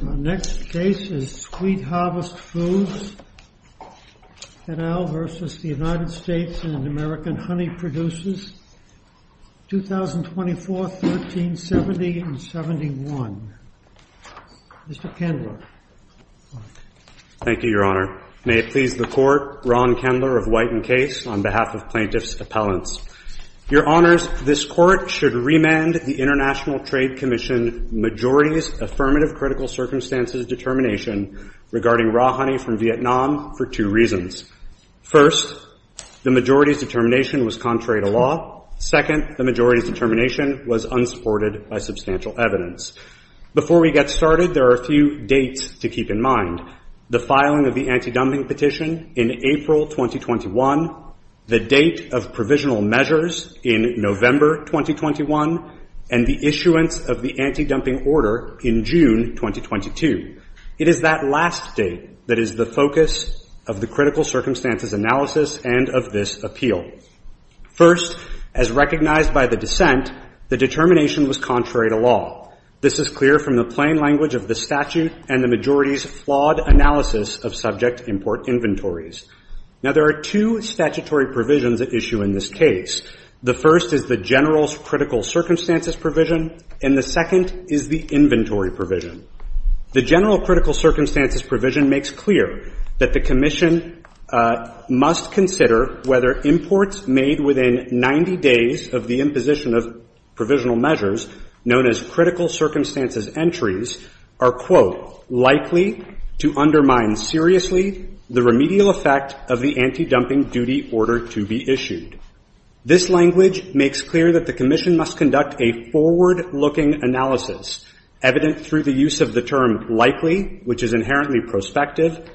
and American Honey Producers, 2024, 1370, and 71. Mr. Kendler. Thank you, Your Honor. May it please the Court, Ron Kendler of White and Case, on behalf of Plaintiffs' Appellants. Your Honors, this Court should remand the International Trade Commission Majority's Affirmative Critical Circumstances Determination regarding raw honey from Vietnam for two reasons. First, the Majority's determination was contrary to law. Second, the Majority's determination was unsupported by substantial evidence. Before we get started, there are a few dates to keep in mind. The filing of the anti-dumping petition in April 2021, the date of provisional measures in November 2021, and the issuance of the anti-dumping order in June 2022. It is that last date that is the focus of the critical circumstances analysis and of this appeal. First, as recognized by the dissent, the determination was contrary to law. This is clear from the plain language of the statute and the Majority's flawed analysis of subject import inventories. Now, there are two statutory provisions at issue in this case. The first is the General's critical circumstances provision, and the second is the inventory provision. The General's critical circumstances provision makes clear that the Commission must consider whether imports made within 90 days of the imposition of provisional measures, known as critical circumstances entries, are, quote, likely to undermine seriously the remedial effect of the anti-dumping duty order to be issued. This language makes clear that the Commission must conduct a forward-looking analysis, evident through the use of the term likely, which is inherently prospective,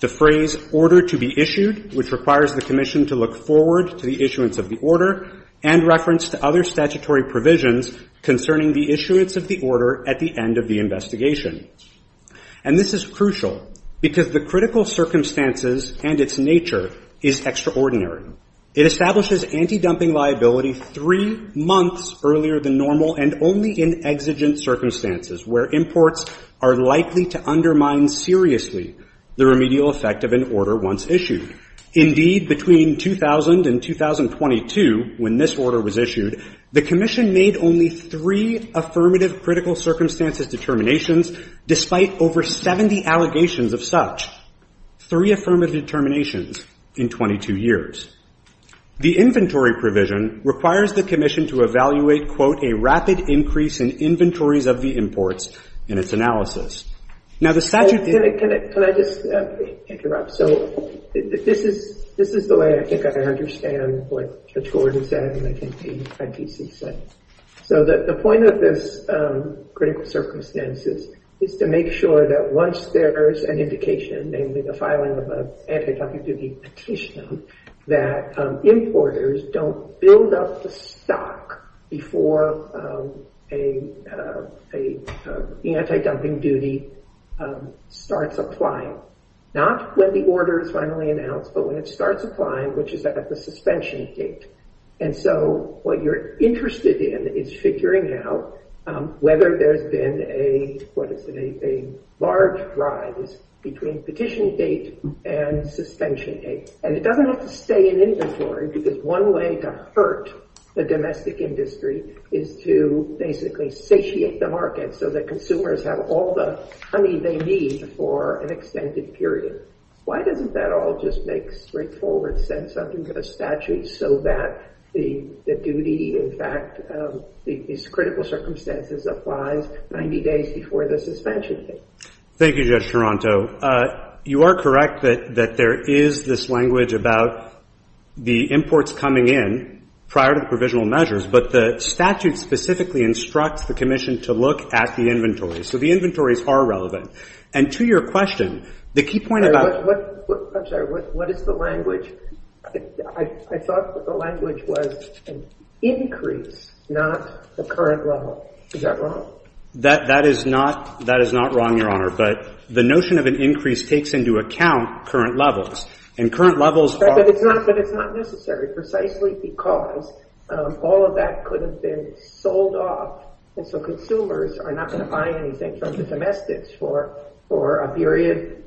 the phrase order to be issued, which requires the Commission to look forward to the issuance of the order, and reference to other statutory provisions concerning the issuance of the order at the end of the investigation. And this is crucial because the critical circumstances and its nature is extraordinary. It establishes anti-dumping liability three months earlier than normal and only in exigent circumstances, where imports are likely to undermine seriously the remedial effect of an order once issued. Indeed, between 2000 and 2022, when this order was issued, the Commission made only three affirmative critical circumstances determinations, despite over 70 allegations of such, three affirmative determinations in 22 years. The inventory provision requires the Commission to evaluate, quote, a rapid increase in inventories of the imports in its analysis. Now, the statute- Can I just interrupt? So this is the way I think I can understand what Judge Gordon said and I think the ITC said. So the point of this critical circumstances is to make sure that once there is an indication, namely the filing of an anti-dumping duty petition, that importers don't build up the stock before an anti-dumping duty starts applying. Not when the order is finally announced, but when it starts applying, which is at the suspension date. And so what you're interested in is figuring out whether there's been a, what you're interested in is a large rise between petition date and suspension date. And it doesn't have to stay in inventory because one way to hurt the domestic industry is to basically satiate the market so that consumers have all the honey they need for an extended period. Why doesn't that all just make straightforward sense under the statute so that the duty, in fact, these critical circumstances applies 90 days before the suspension date? Thank you, Judge Toronto. You are correct that there is this language about the imports coming in prior to the provisional measures, but the statute specifically instructs the commission to look at the inventory. So the inventories are relevant. And to your question, the key point about- I'm sorry. What is the language? I thought the language was increase, not the current level. Is that wrong? That is not wrong, Your Honor. But the notion of an increase takes into account current levels. And current levels- But it's not necessary, precisely because all of that could have been sold off. And so consumers are not going to buy anything from the domestics for a period,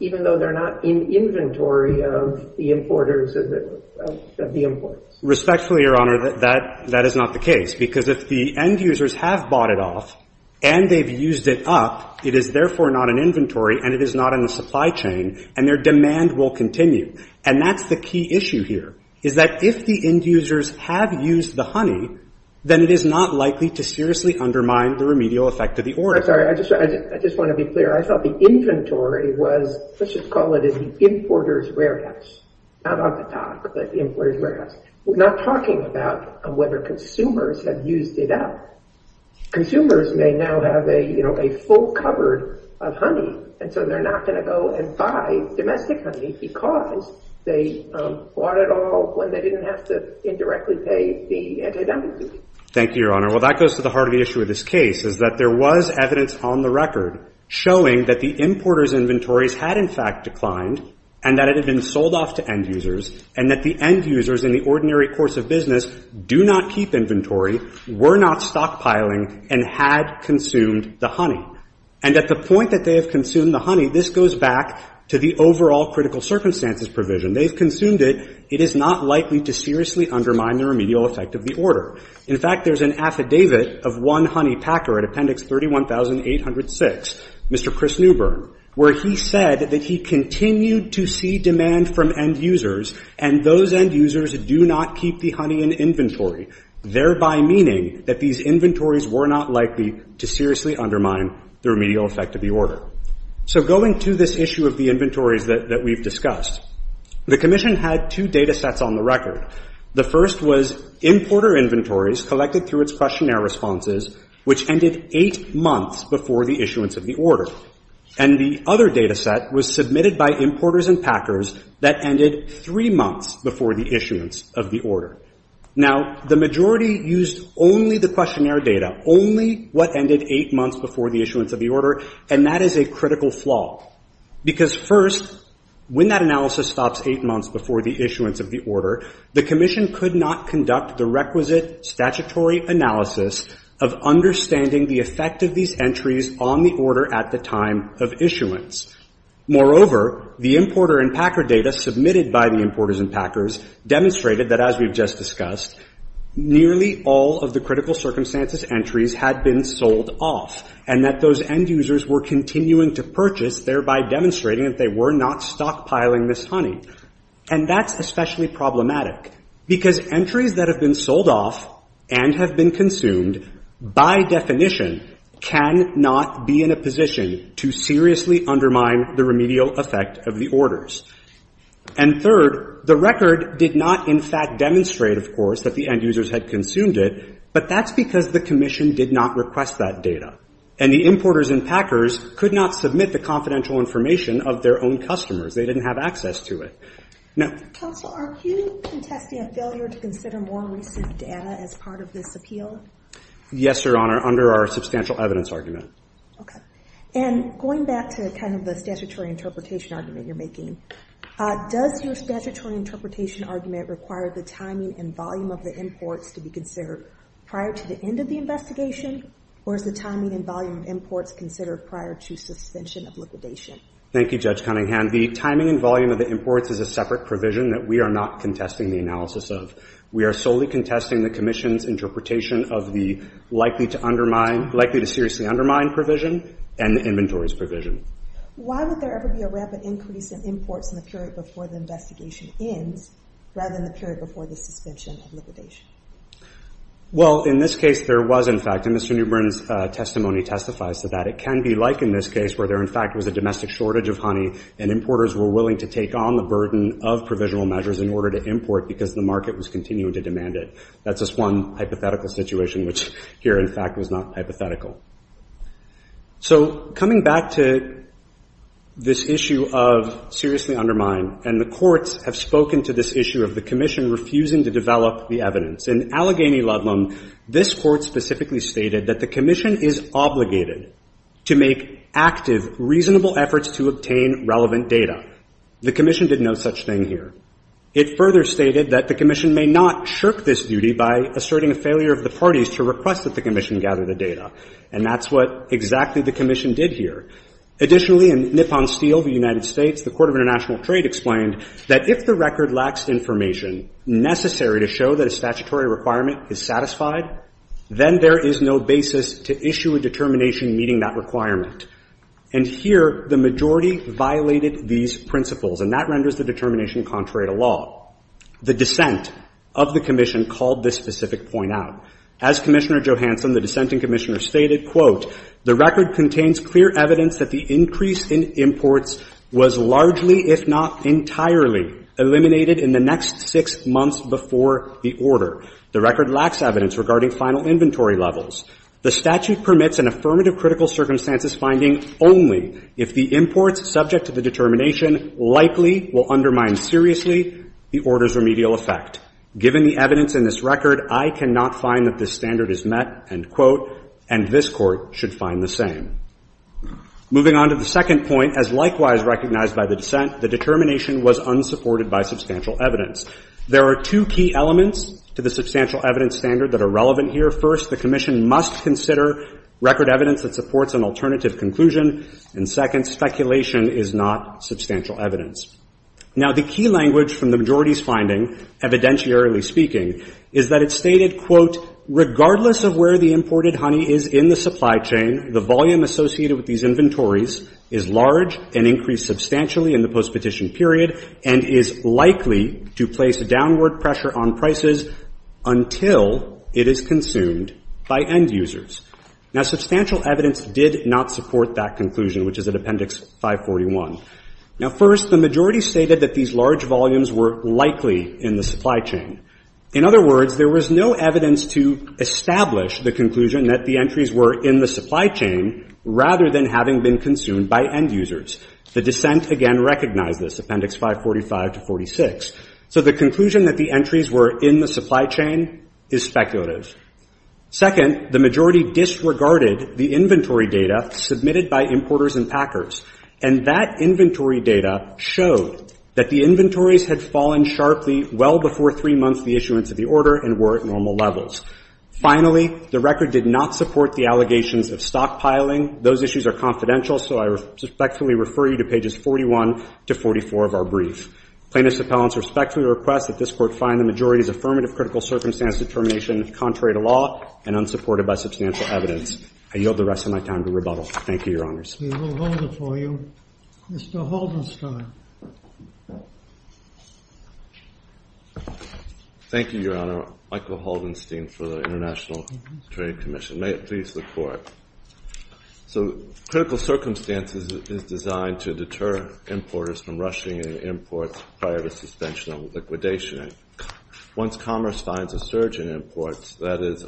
even though they're not in inventory of the importers of the imports. Respectfully, Your Honor, that is not the case. Because if the end users have bought it off and they've used it up, it is therefore not in inventory and it is not in the supply chain, and their demand will continue. And that's the key issue here, is that if the end users have used the honey, then it is not likely to seriously undermine the remedial effect of the order. I'm sorry. I just want to be clear. I thought the inventory was- let's just call it the importer's warehouse. Not off the top, but the importer's warehouse. We're not talking about whether consumers have used it up. Consumers may now have a full cupboard of honey, and so they're not going to go and buy domestic honey because they bought it all when they didn't have to indirectly pay the antidemesis. Thank you, Your Honor. Well, that goes to the heart of the issue of this case, is that there was evidence on the record showing that the importer's inventories had, in fact, declined and that it had been sold off to end users, and that the end users in the ordinary course of business do not keep inventory, were not stockpiling, and had consumed the honey. And at the point that they have consumed the honey, this goes back to the it is not likely to seriously undermine the remedial effect of the order. In fact, there's an affidavit of one honey packer at Appendix 31806, Mr. Chris Newburn, where he said that he continued to see demand from end users, and those end users do not keep the honey in inventory, thereby meaning that these inventories were not likely to seriously undermine the remedial effect of the order. So going to this issue of the inventories that we've discussed, the Commission had two data sets on the record. The first was importer inventories collected through its questionnaire responses, which ended eight months before the issuance of the order. And the other data set was submitted by importers and packers that ended three months before the issuance of the order. Now, the majority used only the questionnaire data, only what ended eight months before the issuance of the order, and that is a critical flaw, because first, when that analysis stops eight months before the issuance of the order, the Commission could not conduct the requisite statutory analysis of understanding the effect of these entries on the order at the time of issuance. Moreover, the importer and packer data submitted by the importers and packers demonstrated that, as we've just discussed, nearly all of the critical circumstances entries had been sold off, and that those end users were continuing to purchase, thereby demonstrating that they were not stockpiling this honey. And that's especially problematic, because entries that have been sold off and have been consumed, by definition, can not be in a position to seriously undermine the remedial effect of the order. And the importer and packer data did not, in fact, demonstrate, of course, that the end users had consumed it, but that's because the Commission did not request that data. And the importers and packers could not submit the confidential information of their own customers. They didn't have access to it. Now ‑‑ Yes, Your Honor, under our substantial evidence argument. Okay. And going back to kind of the statutory interpretation argument you're making, does your statutory interpretation argument require the timing and volume of the imports to be considered prior to the end of the investigation, or is the timing and volume of imports considered prior to suspension of liquidation? Thank you, Judge Cunningham. The timing and volume of the imports is a separate provision that we are not contesting the analysis of. We are solely contesting the Commission's interpretation of the likely to seriously undermine provision and the inventories provision. Why would there ever be a rapid increase in imports in the period before the investigation ends, rather than the period before the suspension of liquidation? Well, in this case, there was, in fact, and Mr. Newbern's testimony testifies to that. It can be like in this case where there, in fact, was a domestic shortage of honey and importers were willing to take on the burden of provisional measures in order to import because the market was That's just one hypothetical situation, which here, in fact, was not hypothetical. So coming back to this issue of seriously undermine, and the courts have spoken to this issue of the Commission refusing to develop the evidence. In Allegheny Ludlam, this court specifically stated that the Commission is obligated to make active, reasonable efforts to obtain relevant data. The Commission did no such thing here. It further stated that the Commission may not shirk this duty by asserting a failure of the parties to request that the Commission gather the data. And that's what exactly the Commission did here. Additionally, in Nippon Steel v. United States, the Court of International Trade explained that if the record lacks information necessary to show that a statutory requirement is satisfied, then there is no basis to issue a determination meeting that requirement. And here, the majority violated these principles, and that renders the determination contrary to law. The dissent of the Commission called this specific point out. As Commissioner Johansson, the dissenting Commissioner, stated, quote, the record contains clear evidence that the increase in imports was largely, if not entirely, eliminated in the next six months before the order. The record lacks evidence regarding final inventory levels. The statute permits an affirmative critical circumstances finding only if the imports subject to the determination likely will undermine seriously the order's remedial effect. Given the evidence in this record, I cannot find that this standard is met, end quote, and this Court should find the same. Moving on to the second point, as likewise recognized by the dissent, the determination was unsupported by substantial evidence. There are two key elements to the substantial evidence standard that are relevant here. First, the Commission must consider record evidence that supports an alternative conclusion. And second, speculation is not substantial evidence. Now, the key language from the majority's finding, evidentiarily speaking, is that it stated, quote, regardless of where the imported honey is in the supply chain, the volume associated with these inventories is large and increased substantially in the postpetition period and is likely to place downward pressure on prices until it is consumed by end users. Now, substantial evidence did not support that conclusion, which is at Appendix 541. Now, first, the majority stated that these large volumes were likely in the supply chain. In other words, there was no evidence to establish the conclusion that the entries were in the supply chain rather than having been consumed by end users. The conclusion that the entries were in the supply chain is speculative. Second, the majority disregarded the inventory data submitted by importers and packers. And that inventory data showed that the inventories had fallen sharply well before three months of the issuance of the order and were at normal levels. Finally, the record did not support the allegations of stockpiling. Those issues are confidential, so I respectfully refer you to pages 41 to 44 of our brief. Plaintiffs' appellants respectfully request that this Court find the majority's affirmative critical circumstance determination contrary to law and unsupported by substantial evidence. I yield the rest of my time to rebuttal. Thank you, Your Honors. We will hold it for you. Mr. Holdenstein. Thank you, Your Honor. Michael Holdenstein for the International Trade Commission. May it please the Court. So critical circumstances is designed to deter importers from rushing in imports prior to suspension of liquidation. Once commerce finds a surge in imports, that is,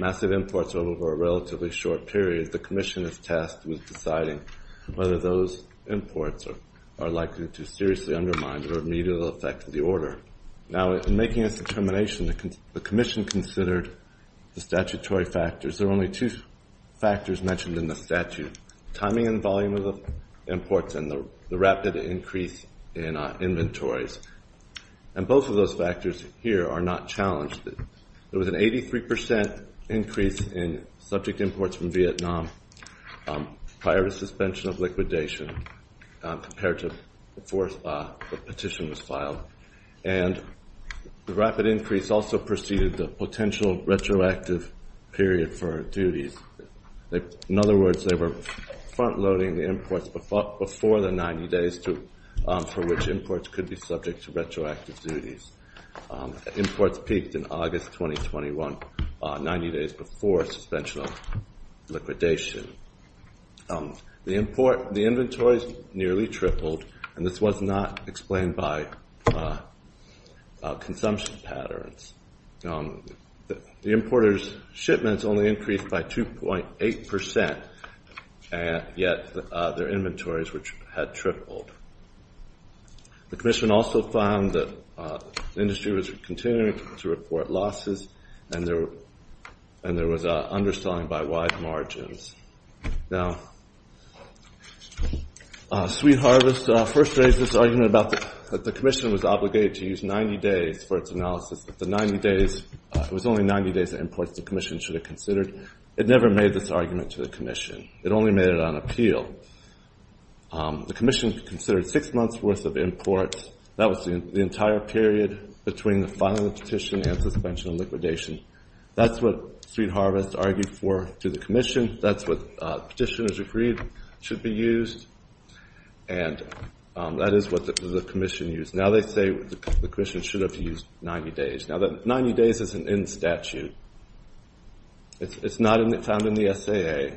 massive imports over a relatively short period, the Commission is tasked with deciding whether those imports are likely to seriously undermine or immediately affect the order. Now, in making this determination, the Commission considered the statutory factors. There are only two factors mentioned in the statute, timing and volume of imports and the rapid increase in inventories. And both of those factors here are not challenged. There was an 83 percent increase in subject imports from Vietnam prior to suspension of liquidation compared to before the petition was filed. And the rapid increase also preceded the potential retroactive period for duties. In other words, they were frontloading the imports before the 90 days for which imports could be subject to retroactive duties. Imports peaked in August 2021, 90 days before suspension of liquidation. The inventories nearly tripled, and this was not explained by consumption patterns. The importers' shipments only increased by 2.8 percent, yet their inventories had tripled. The Commission also found that the industry was continuing to report Now, Sweet Harvest first raised this argument that the Commission was obligated to use 90 days for its analysis. It was only 90 days of imports the Commission should have considered. It never made this argument to the Commission. It only made it on appeal. The Commission considered six months' worth of imports. That was the entire period between the filing of the petition and suspension of liquidation. That's what Sweet Harvest argued for to the Commission. That's what petitioners agreed should be used. And that is what the Commission used. Now they say the Commission should have used 90 days. Now, that 90 days isn't in statute. It's not found in the SAA.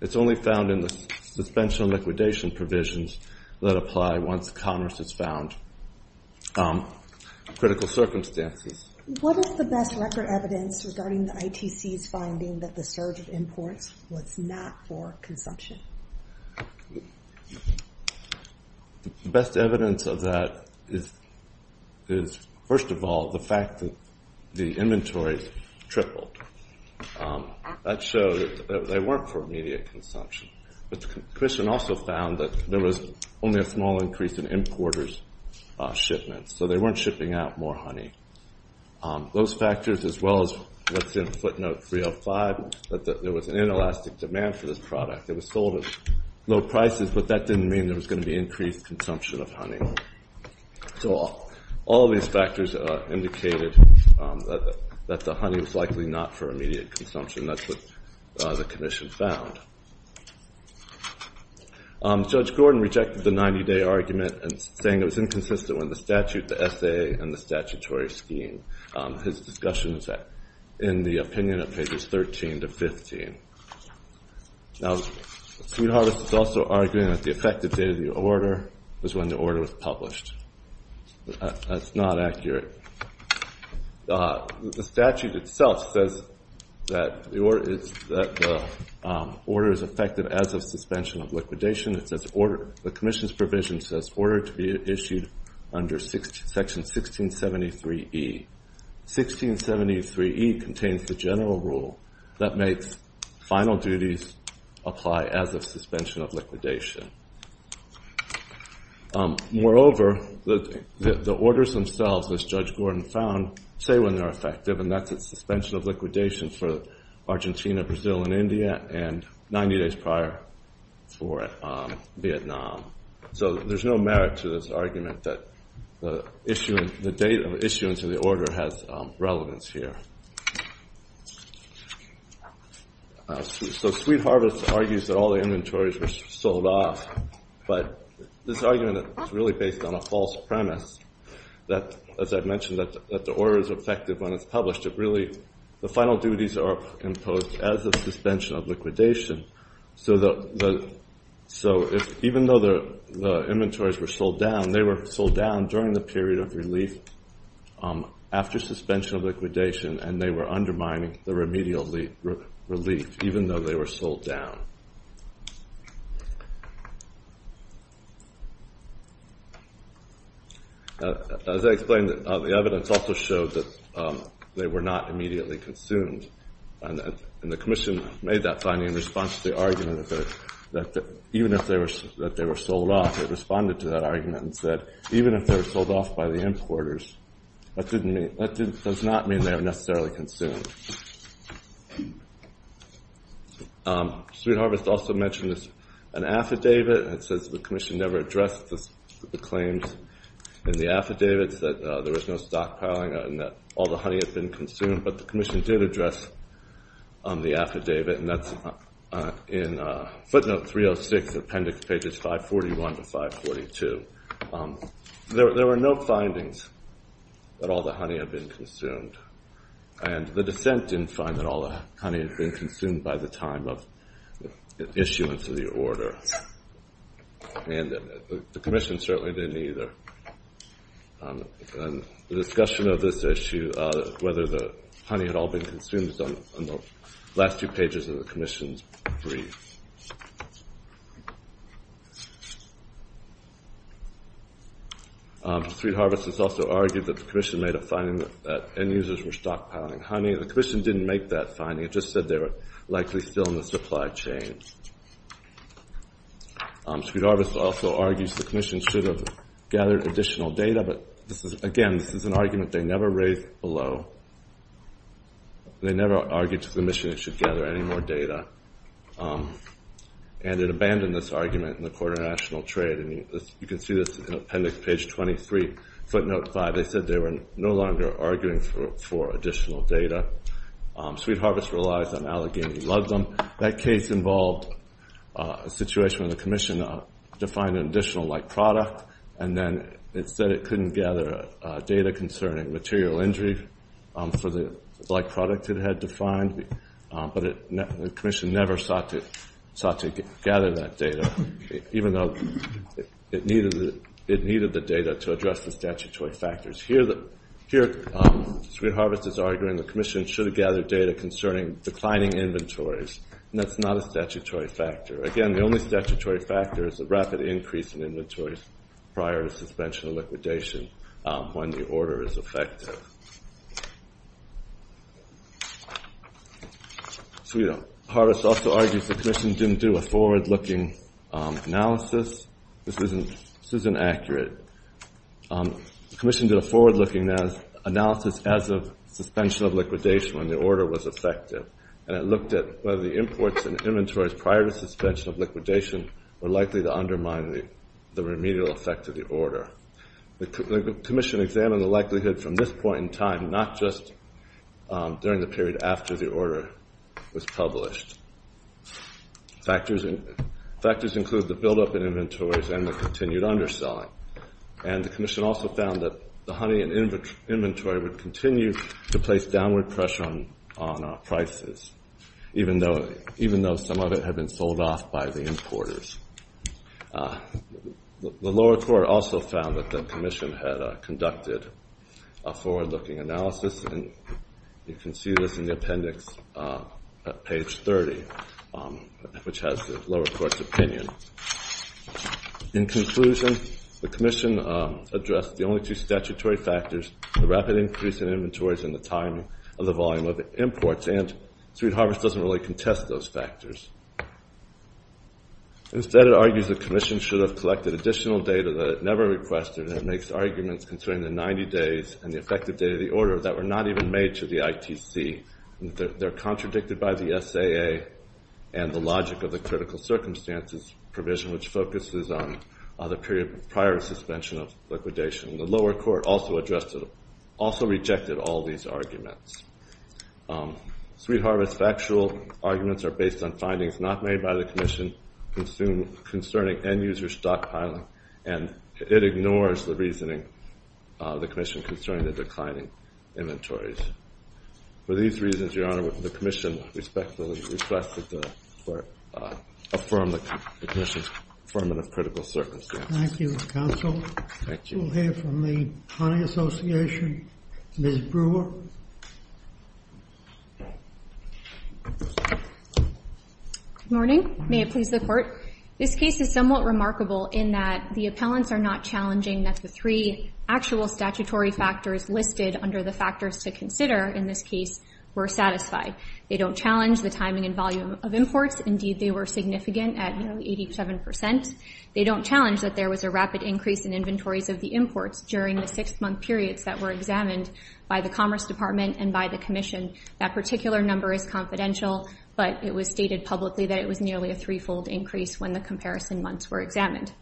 It's only found in the suspension of liquidation provisions that apply once commerce is found. Critical circumstances. What is the best record evidence regarding the ITC's finding that the surge of imports was not for consumption? The best evidence of that is, first of all, the fact that the inventories tripled. That showed that they weren't for immediate consumption. The Commission also found that there was only a small increase in importers' shipments. So they weren't shipping out more honey. Those factors, as well as what's in footnote 305, that there was an inelastic demand for this product. It was sold at low prices, but that didn't mean there was going to be increased consumption of honey. So all of these factors indicated that the honey was likely not for immediate consumption. That's what the Commission found. Judge Gordon rejected the 90-day argument, saying it was inconsistent with the statute, the SAA, and the statutory scheme. His discussion is in the opinion of pages 13 to 15. Now, Sweet Harvest is also arguing that the effective date of the order was when the order was published. That's not accurate. The statute itself says that the order is effective as of suspension of liquidation. The Commission's provision says order to be issued under section 1673E. 1673E contains the general rule that makes final duties apply as of suspension of liquidation. Moreover, the orders themselves, as Judge Gordon found, say when are effective, and that's at suspension of liquidation for Argentina, Brazil, and India, and 90 days prior for Vietnam. So there's no merit to this argument that the date of issuance of the order has relevance here. So Sweet Harvest argues that all the inventories were sold off, but this argument is really based on a false premise that, as I've mentioned, that the order is effective when it's published. Really, the final duties are imposed as of suspension of liquidation. So even though the inventories were sold down, they were sold down during the period of relief after suspension of liquidation, and they were undermining the remedial relief, even though they were sold down. As I explained, the evidence also showed that they were not immediately consumed, and the Commission made that finding in response to the argument that even if they were sold off, it responded to that argument and said, even if they were sold off by the importers, that does not mean they were necessarily consumed. Sweet Harvest also mentioned an affidavit that says the Commission never addressed the claims in the affidavits that there was no stockpiling and that all the honey had been consumed, but the Commission did address the affidavit, and that's in footnote 306, appendix pages 541 to 542. There were no findings that all the honey had been consumed, and the dissent didn't find that all the honey had been consumed by the time of issuance of the order, and the Commission certainly didn't either. The discussion of this issue, whether the honey had all been consumed, is on the last two pages of the Sweet Harvest has also argued that the Commission made a finding that end users were stockpiling honey. The Commission didn't make that finding. It just said they were likely still in the supply chain. Sweet Harvest also argues the Commission should have gathered additional data, but again, this is an argument they never raised below. They never argued to the Commission it should gather any more data, and it abandoned this argument in the Court of National Trade, and you can see this in appendix page 23, footnote 5. They said they were no longer arguing for additional data. Sweet Harvest relies on Allegheny Ludlum. That case involved a situation where the Commission defined an additional like product, and then it said it couldn't gather data concerning material injury for the like product it had defined, but the Commission never sought to gather that data, even though it needed the data to address the statutory factors. Here, Sweet Harvest is arguing the Commission should have gathered data concerning declining inventories, and that's not a statutory factor. Again, the only statutory factor is the rapid increase in inventories prior to suspension or liquidation when the order is effective. Sweet Harvest also argues the Commission didn't do a forward-looking analysis. This isn't accurate. The Commission did a forward-looking analysis as of suspension of liquidation when the order was effective, and it looked at whether the imports and inventories prior to suspension of liquidation were likely to undermine the remedial effect of the order. The Commission examined the likelihood from this point in time, not just during the period after the order was published. Factors include the buildup in inventories and the continued underselling, and the Commission also found that the honey and inventory would continue to place downward pressure on prices, even though some of it had been sold off by the importers. The lower court also found that the Commission had conducted a forward-looking analysis, and you can see this in the appendix at page 30, which has the lower court's opinion. In conclusion, the Commission addressed the only two statutory factors, the rapid increase in inventories and the time of the volume of imports, and Sweet Harvest doesn't really contest those factors. Instead, it argues the Commission should have collected additional data that it never requested, and it makes arguments concerning the 90 days and the effective date of the order that were not even made to the ITC. They're contradicted by the SAA and the logic of the critical circumstances provision, which focuses on the period prior to suspension of liquidation. The lower court also rejected all these arguments. Sweet Harvest's factual arguments are based on findings not made by the Commission concerning end-user stockpiling, and it ignores the reasoning of the Commission concerning the declining inventories. For these reasons, Your Honor, the Commission respectfully requests that the court affirm the Commission's affirmative critical circumstances. Thank you, counsel. Thank you. We'll hear from the Pontiac Association. Ms. Brewer. Good morning. May it please the Court. This case is somewhat remarkable in that the appellants are not challenging that the three actual statutory factors listed under the factors to consider in this case were satisfied. They don't challenge the timing and volume of imports. Indeed, they were significant at nearly 87 percent. They don't challenge that there was a rapid increase in inventories of the imports during the six-month periods that were examined by the Commerce Department and by the Commission. That particular number is confidential, but it was stated publicly that it was nearly a three-fold increase when the comparison months were examined.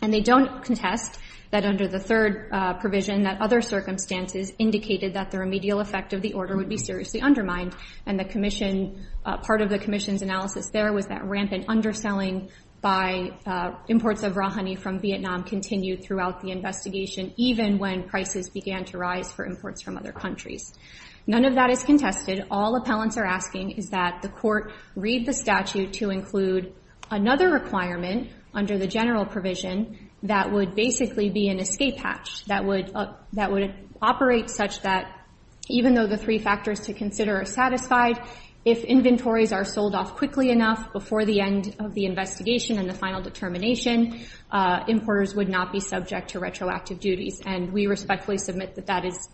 And they don't contest that under the third provision that other circumstances indicated that the remedial effect of the order would be seriously undermined, and part of the Commission's analysis there was that rampant underselling by imports of raw honey from Vietnam continued throughout the investigation, even when prices began to rise for imports from other countries. None of that is contested. All appellants are asking is that the Court read the statute to include another requirement under the general provision that would basically be an escape hatch, that would operate such that even though the three factors to consider are satisfied, if inventories are undervalued, importers would not be subject to retroactive duties. And we respectfully submit that that is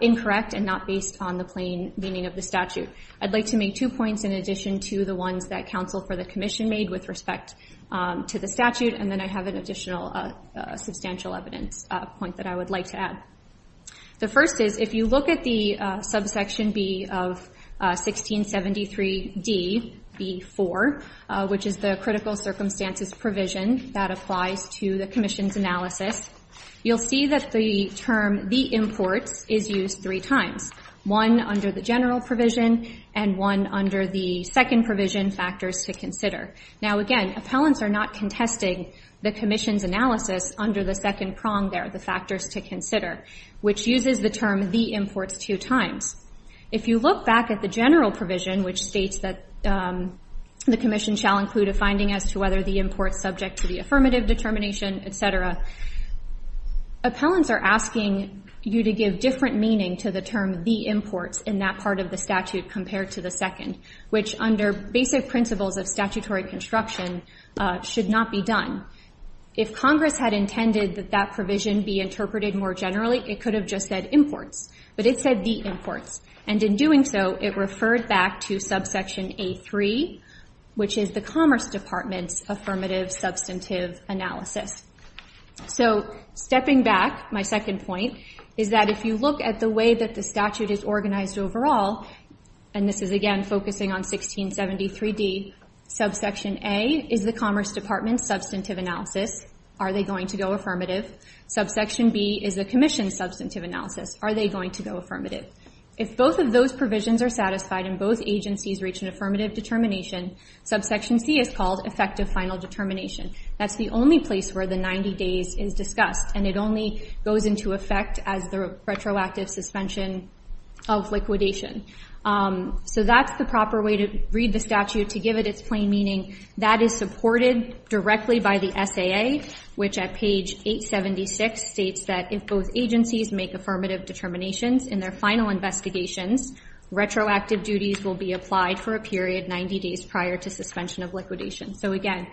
incorrect and not based on the plain meaning of the statute. I'd like to make two points in addition to the ones that counsel for the Commission made with respect to the statute, and then I have an additional substantial evidence point that I would like to add. The first is, if you look at the subsection B of 1673db4, which is the critical circumstances provision that applies to the Commission's analysis, you'll see that the term the imports is used three times, one under the general provision and one under the second provision factors to consider. Now again, appellants are not contesting the Commission's analysis under the second prong there, the factors to consider, which uses the term the imports two times. If you look back at the general provision, which states that the Commission shall include a finding as to whether the imports subject to the affirmative determination, et cetera, appellants are asking you to give different meaning to the term the imports in that part of the statute compared to the second, which under basic principles of statutory construction should not be done. If Congress had intended that that provision be interpreted more generally, it could have just said imports, but it said the imports. And in doing so, it referred back to subsection A3, which is the Commerce Department's affirmative substantive analysis. So stepping back, my second point is that if you look at the way that the statute is organized overall, and this is again focusing on 1673d, subsection A is the Commerce Department's affirmative. Subsection B is the Commission's substantive analysis. Are they going to go affirmative? If both of those provisions are satisfied and both agencies reach an affirmative determination, subsection C is called effective final determination. That's the only place where the 90 days is discussed, and it only goes into effect as the retroactive suspension of liquidation. So that's the proper way to read the statute to give it its SAA, which at page 876 states that if both agencies make affirmative determinations in their final investigations, retroactive duties will be applied for a period 90 days prior to suspension of liquidation. So again,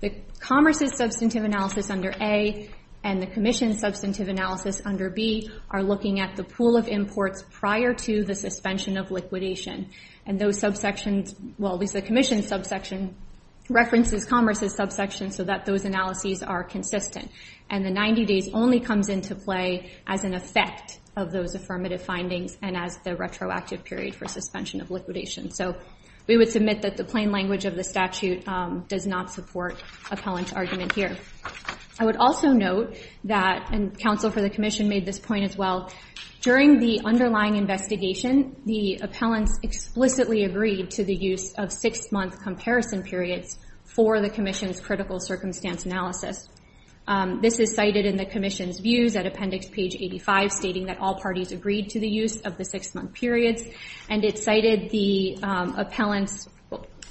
the Commerce's substantive analysis under A and the Commission's substantive analysis under B are looking at the pool of imports prior to the suspension of liquidation. And those subsections, well, at least the Commission's subsection references Commerce's subsection so that those analyses are consistent. And the 90 days only comes into play as an effect of those affirmative findings and as the retroactive period for suspension of liquidation. So we would submit that the plain language of the statute does not support appellant's argument here. I would also note that, and counsel for the Commission made this point as well, during the underlying investigation, the appellants explicitly agreed to the use of six-month comparison periods for the Commission's critical circumstance analysis. This is cited in the Commission's views at appendix page 85, stating that all parties agreed to the use of the six-month periods. And it cited the appellants,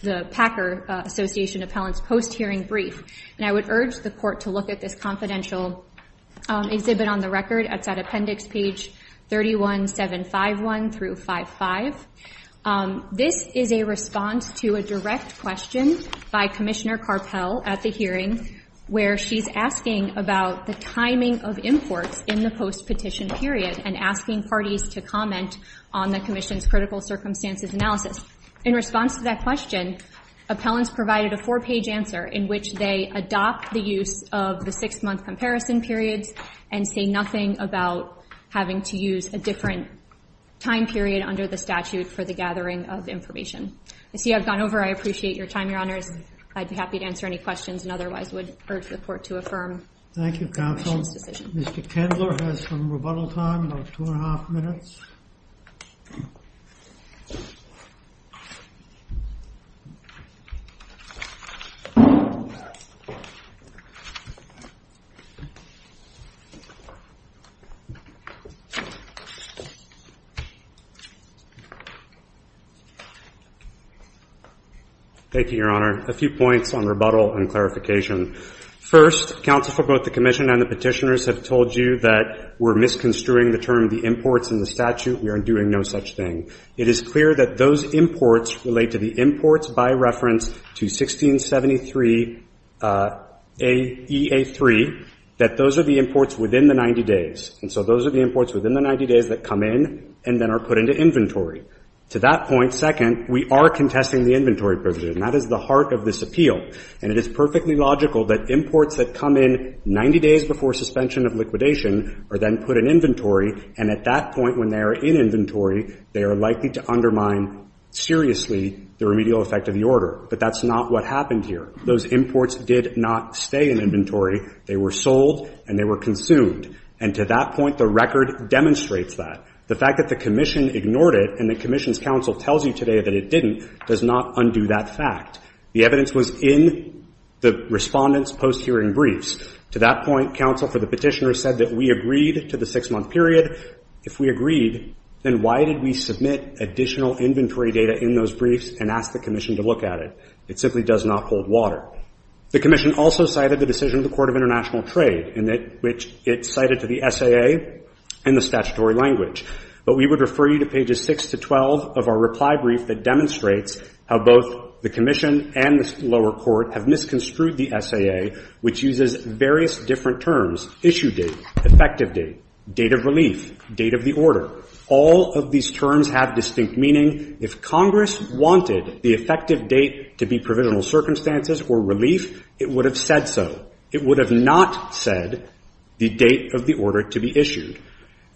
the Packer Association appellants post-hearing brief. And I would urge the court to look at this confidential exhibit on the record. It's at appendix page 31-751 through 55. This is a response to a direct question by Commissioner Carpell at the hearing where she's asking about the timing of imports in the post-petition period and asking parties to comment on the Commission's critical circumstances analysis. In response to that question, appellants provided a four-page answer in which they adopt the use of the six-month comparison periods and say nothing about having to use a different time period under the statute for the gathering of information. I see I've gone over. I appreciate your time, Your Honors. I'd be happy to answer any questions and otherwise would urge the court to affirm the Commission's decision. Thank you, counsel. Mr. Kendler has some rebuttal time, about two-and-a-half minutes. Thank you, Your Honor. A few points on rebuttal and clarification. First, counsel, both the Commission and the petitioners have told you that we're misconstruing the term imports in the statute. We are doing no such thing. It is clear that those imports relate to the imports by reference to 1673AEA3, that those are the imports within the 90 days. And so those are the imports within the 90 days that come in and then are put into inventory. To that point, second, we are contesting the inventory provision. And that is the heart of this appeal. And it is perfectly logical that imports that come in 90 days before suspension of liquidation are then put in inventory. And at that point, when they are in inventory, they are likely to undermine seriously the remedial effect of the order. But that's not what happened here. Those imports did not stay in inventory. They were sold and they were consumed. And to that point, the record demonstrates that. The fact that the Commission ignored it and the Commission's counsel tells you today that it didn't does not undo that fact. The evidence was in the respondents' post-hearing briefs. To that point, counsel for the petitioners said that we agreed to the six-month period. If we agreed, then why did we submit additional inventory data in those briefs and ask the Commission to look at it? It simply does not hold water. The Commission also cited the decision of the Court of National Trade in that which it cited to the SAA in the statutory language. But we would refer you to pages 6 to 12 of our reply brief that demonstrates how both the Commission and the lower court have misconstrued the SAA, which uses various different terms, issue date, effective date, date of relief, date of the order. All of these terms have distinct meaning. If Congress wanted the effective date to be provisional circumstances or relief, it would have said so. It would have not said the date of the order to be issued.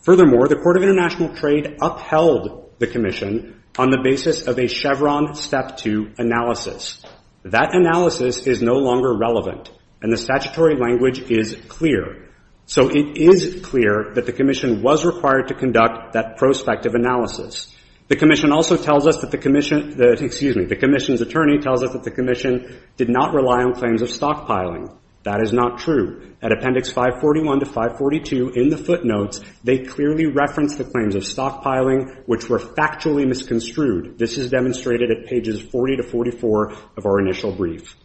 Furthermore, the Court of International Trade upheld the Commission on the basis of a Chevron Step 2 analysis. That analysis is no longer relevant, and the statutory language is clear. So it is clear that the Commission was required to conduct that prospective analysis. The Commission also tells us that the Commission did not rely on claims of stockpiling. That is not true. At Appendix 541 to 542 in the footnotes, they clearly reference the claims of stockpiling, which were factually misconstrued. This is demonstrated at pages 40 to 44 of our initial brief.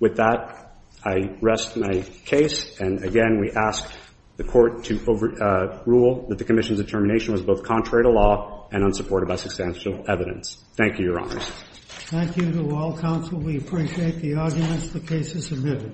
With that, I rest my case. And again, we ask the Court to rule that the Commission's determination was both contrary to law and unsupported by substantial evidence. Thank you, Your Honors. Thank you to all counsel. We appreciate the arguments. The case is admitted.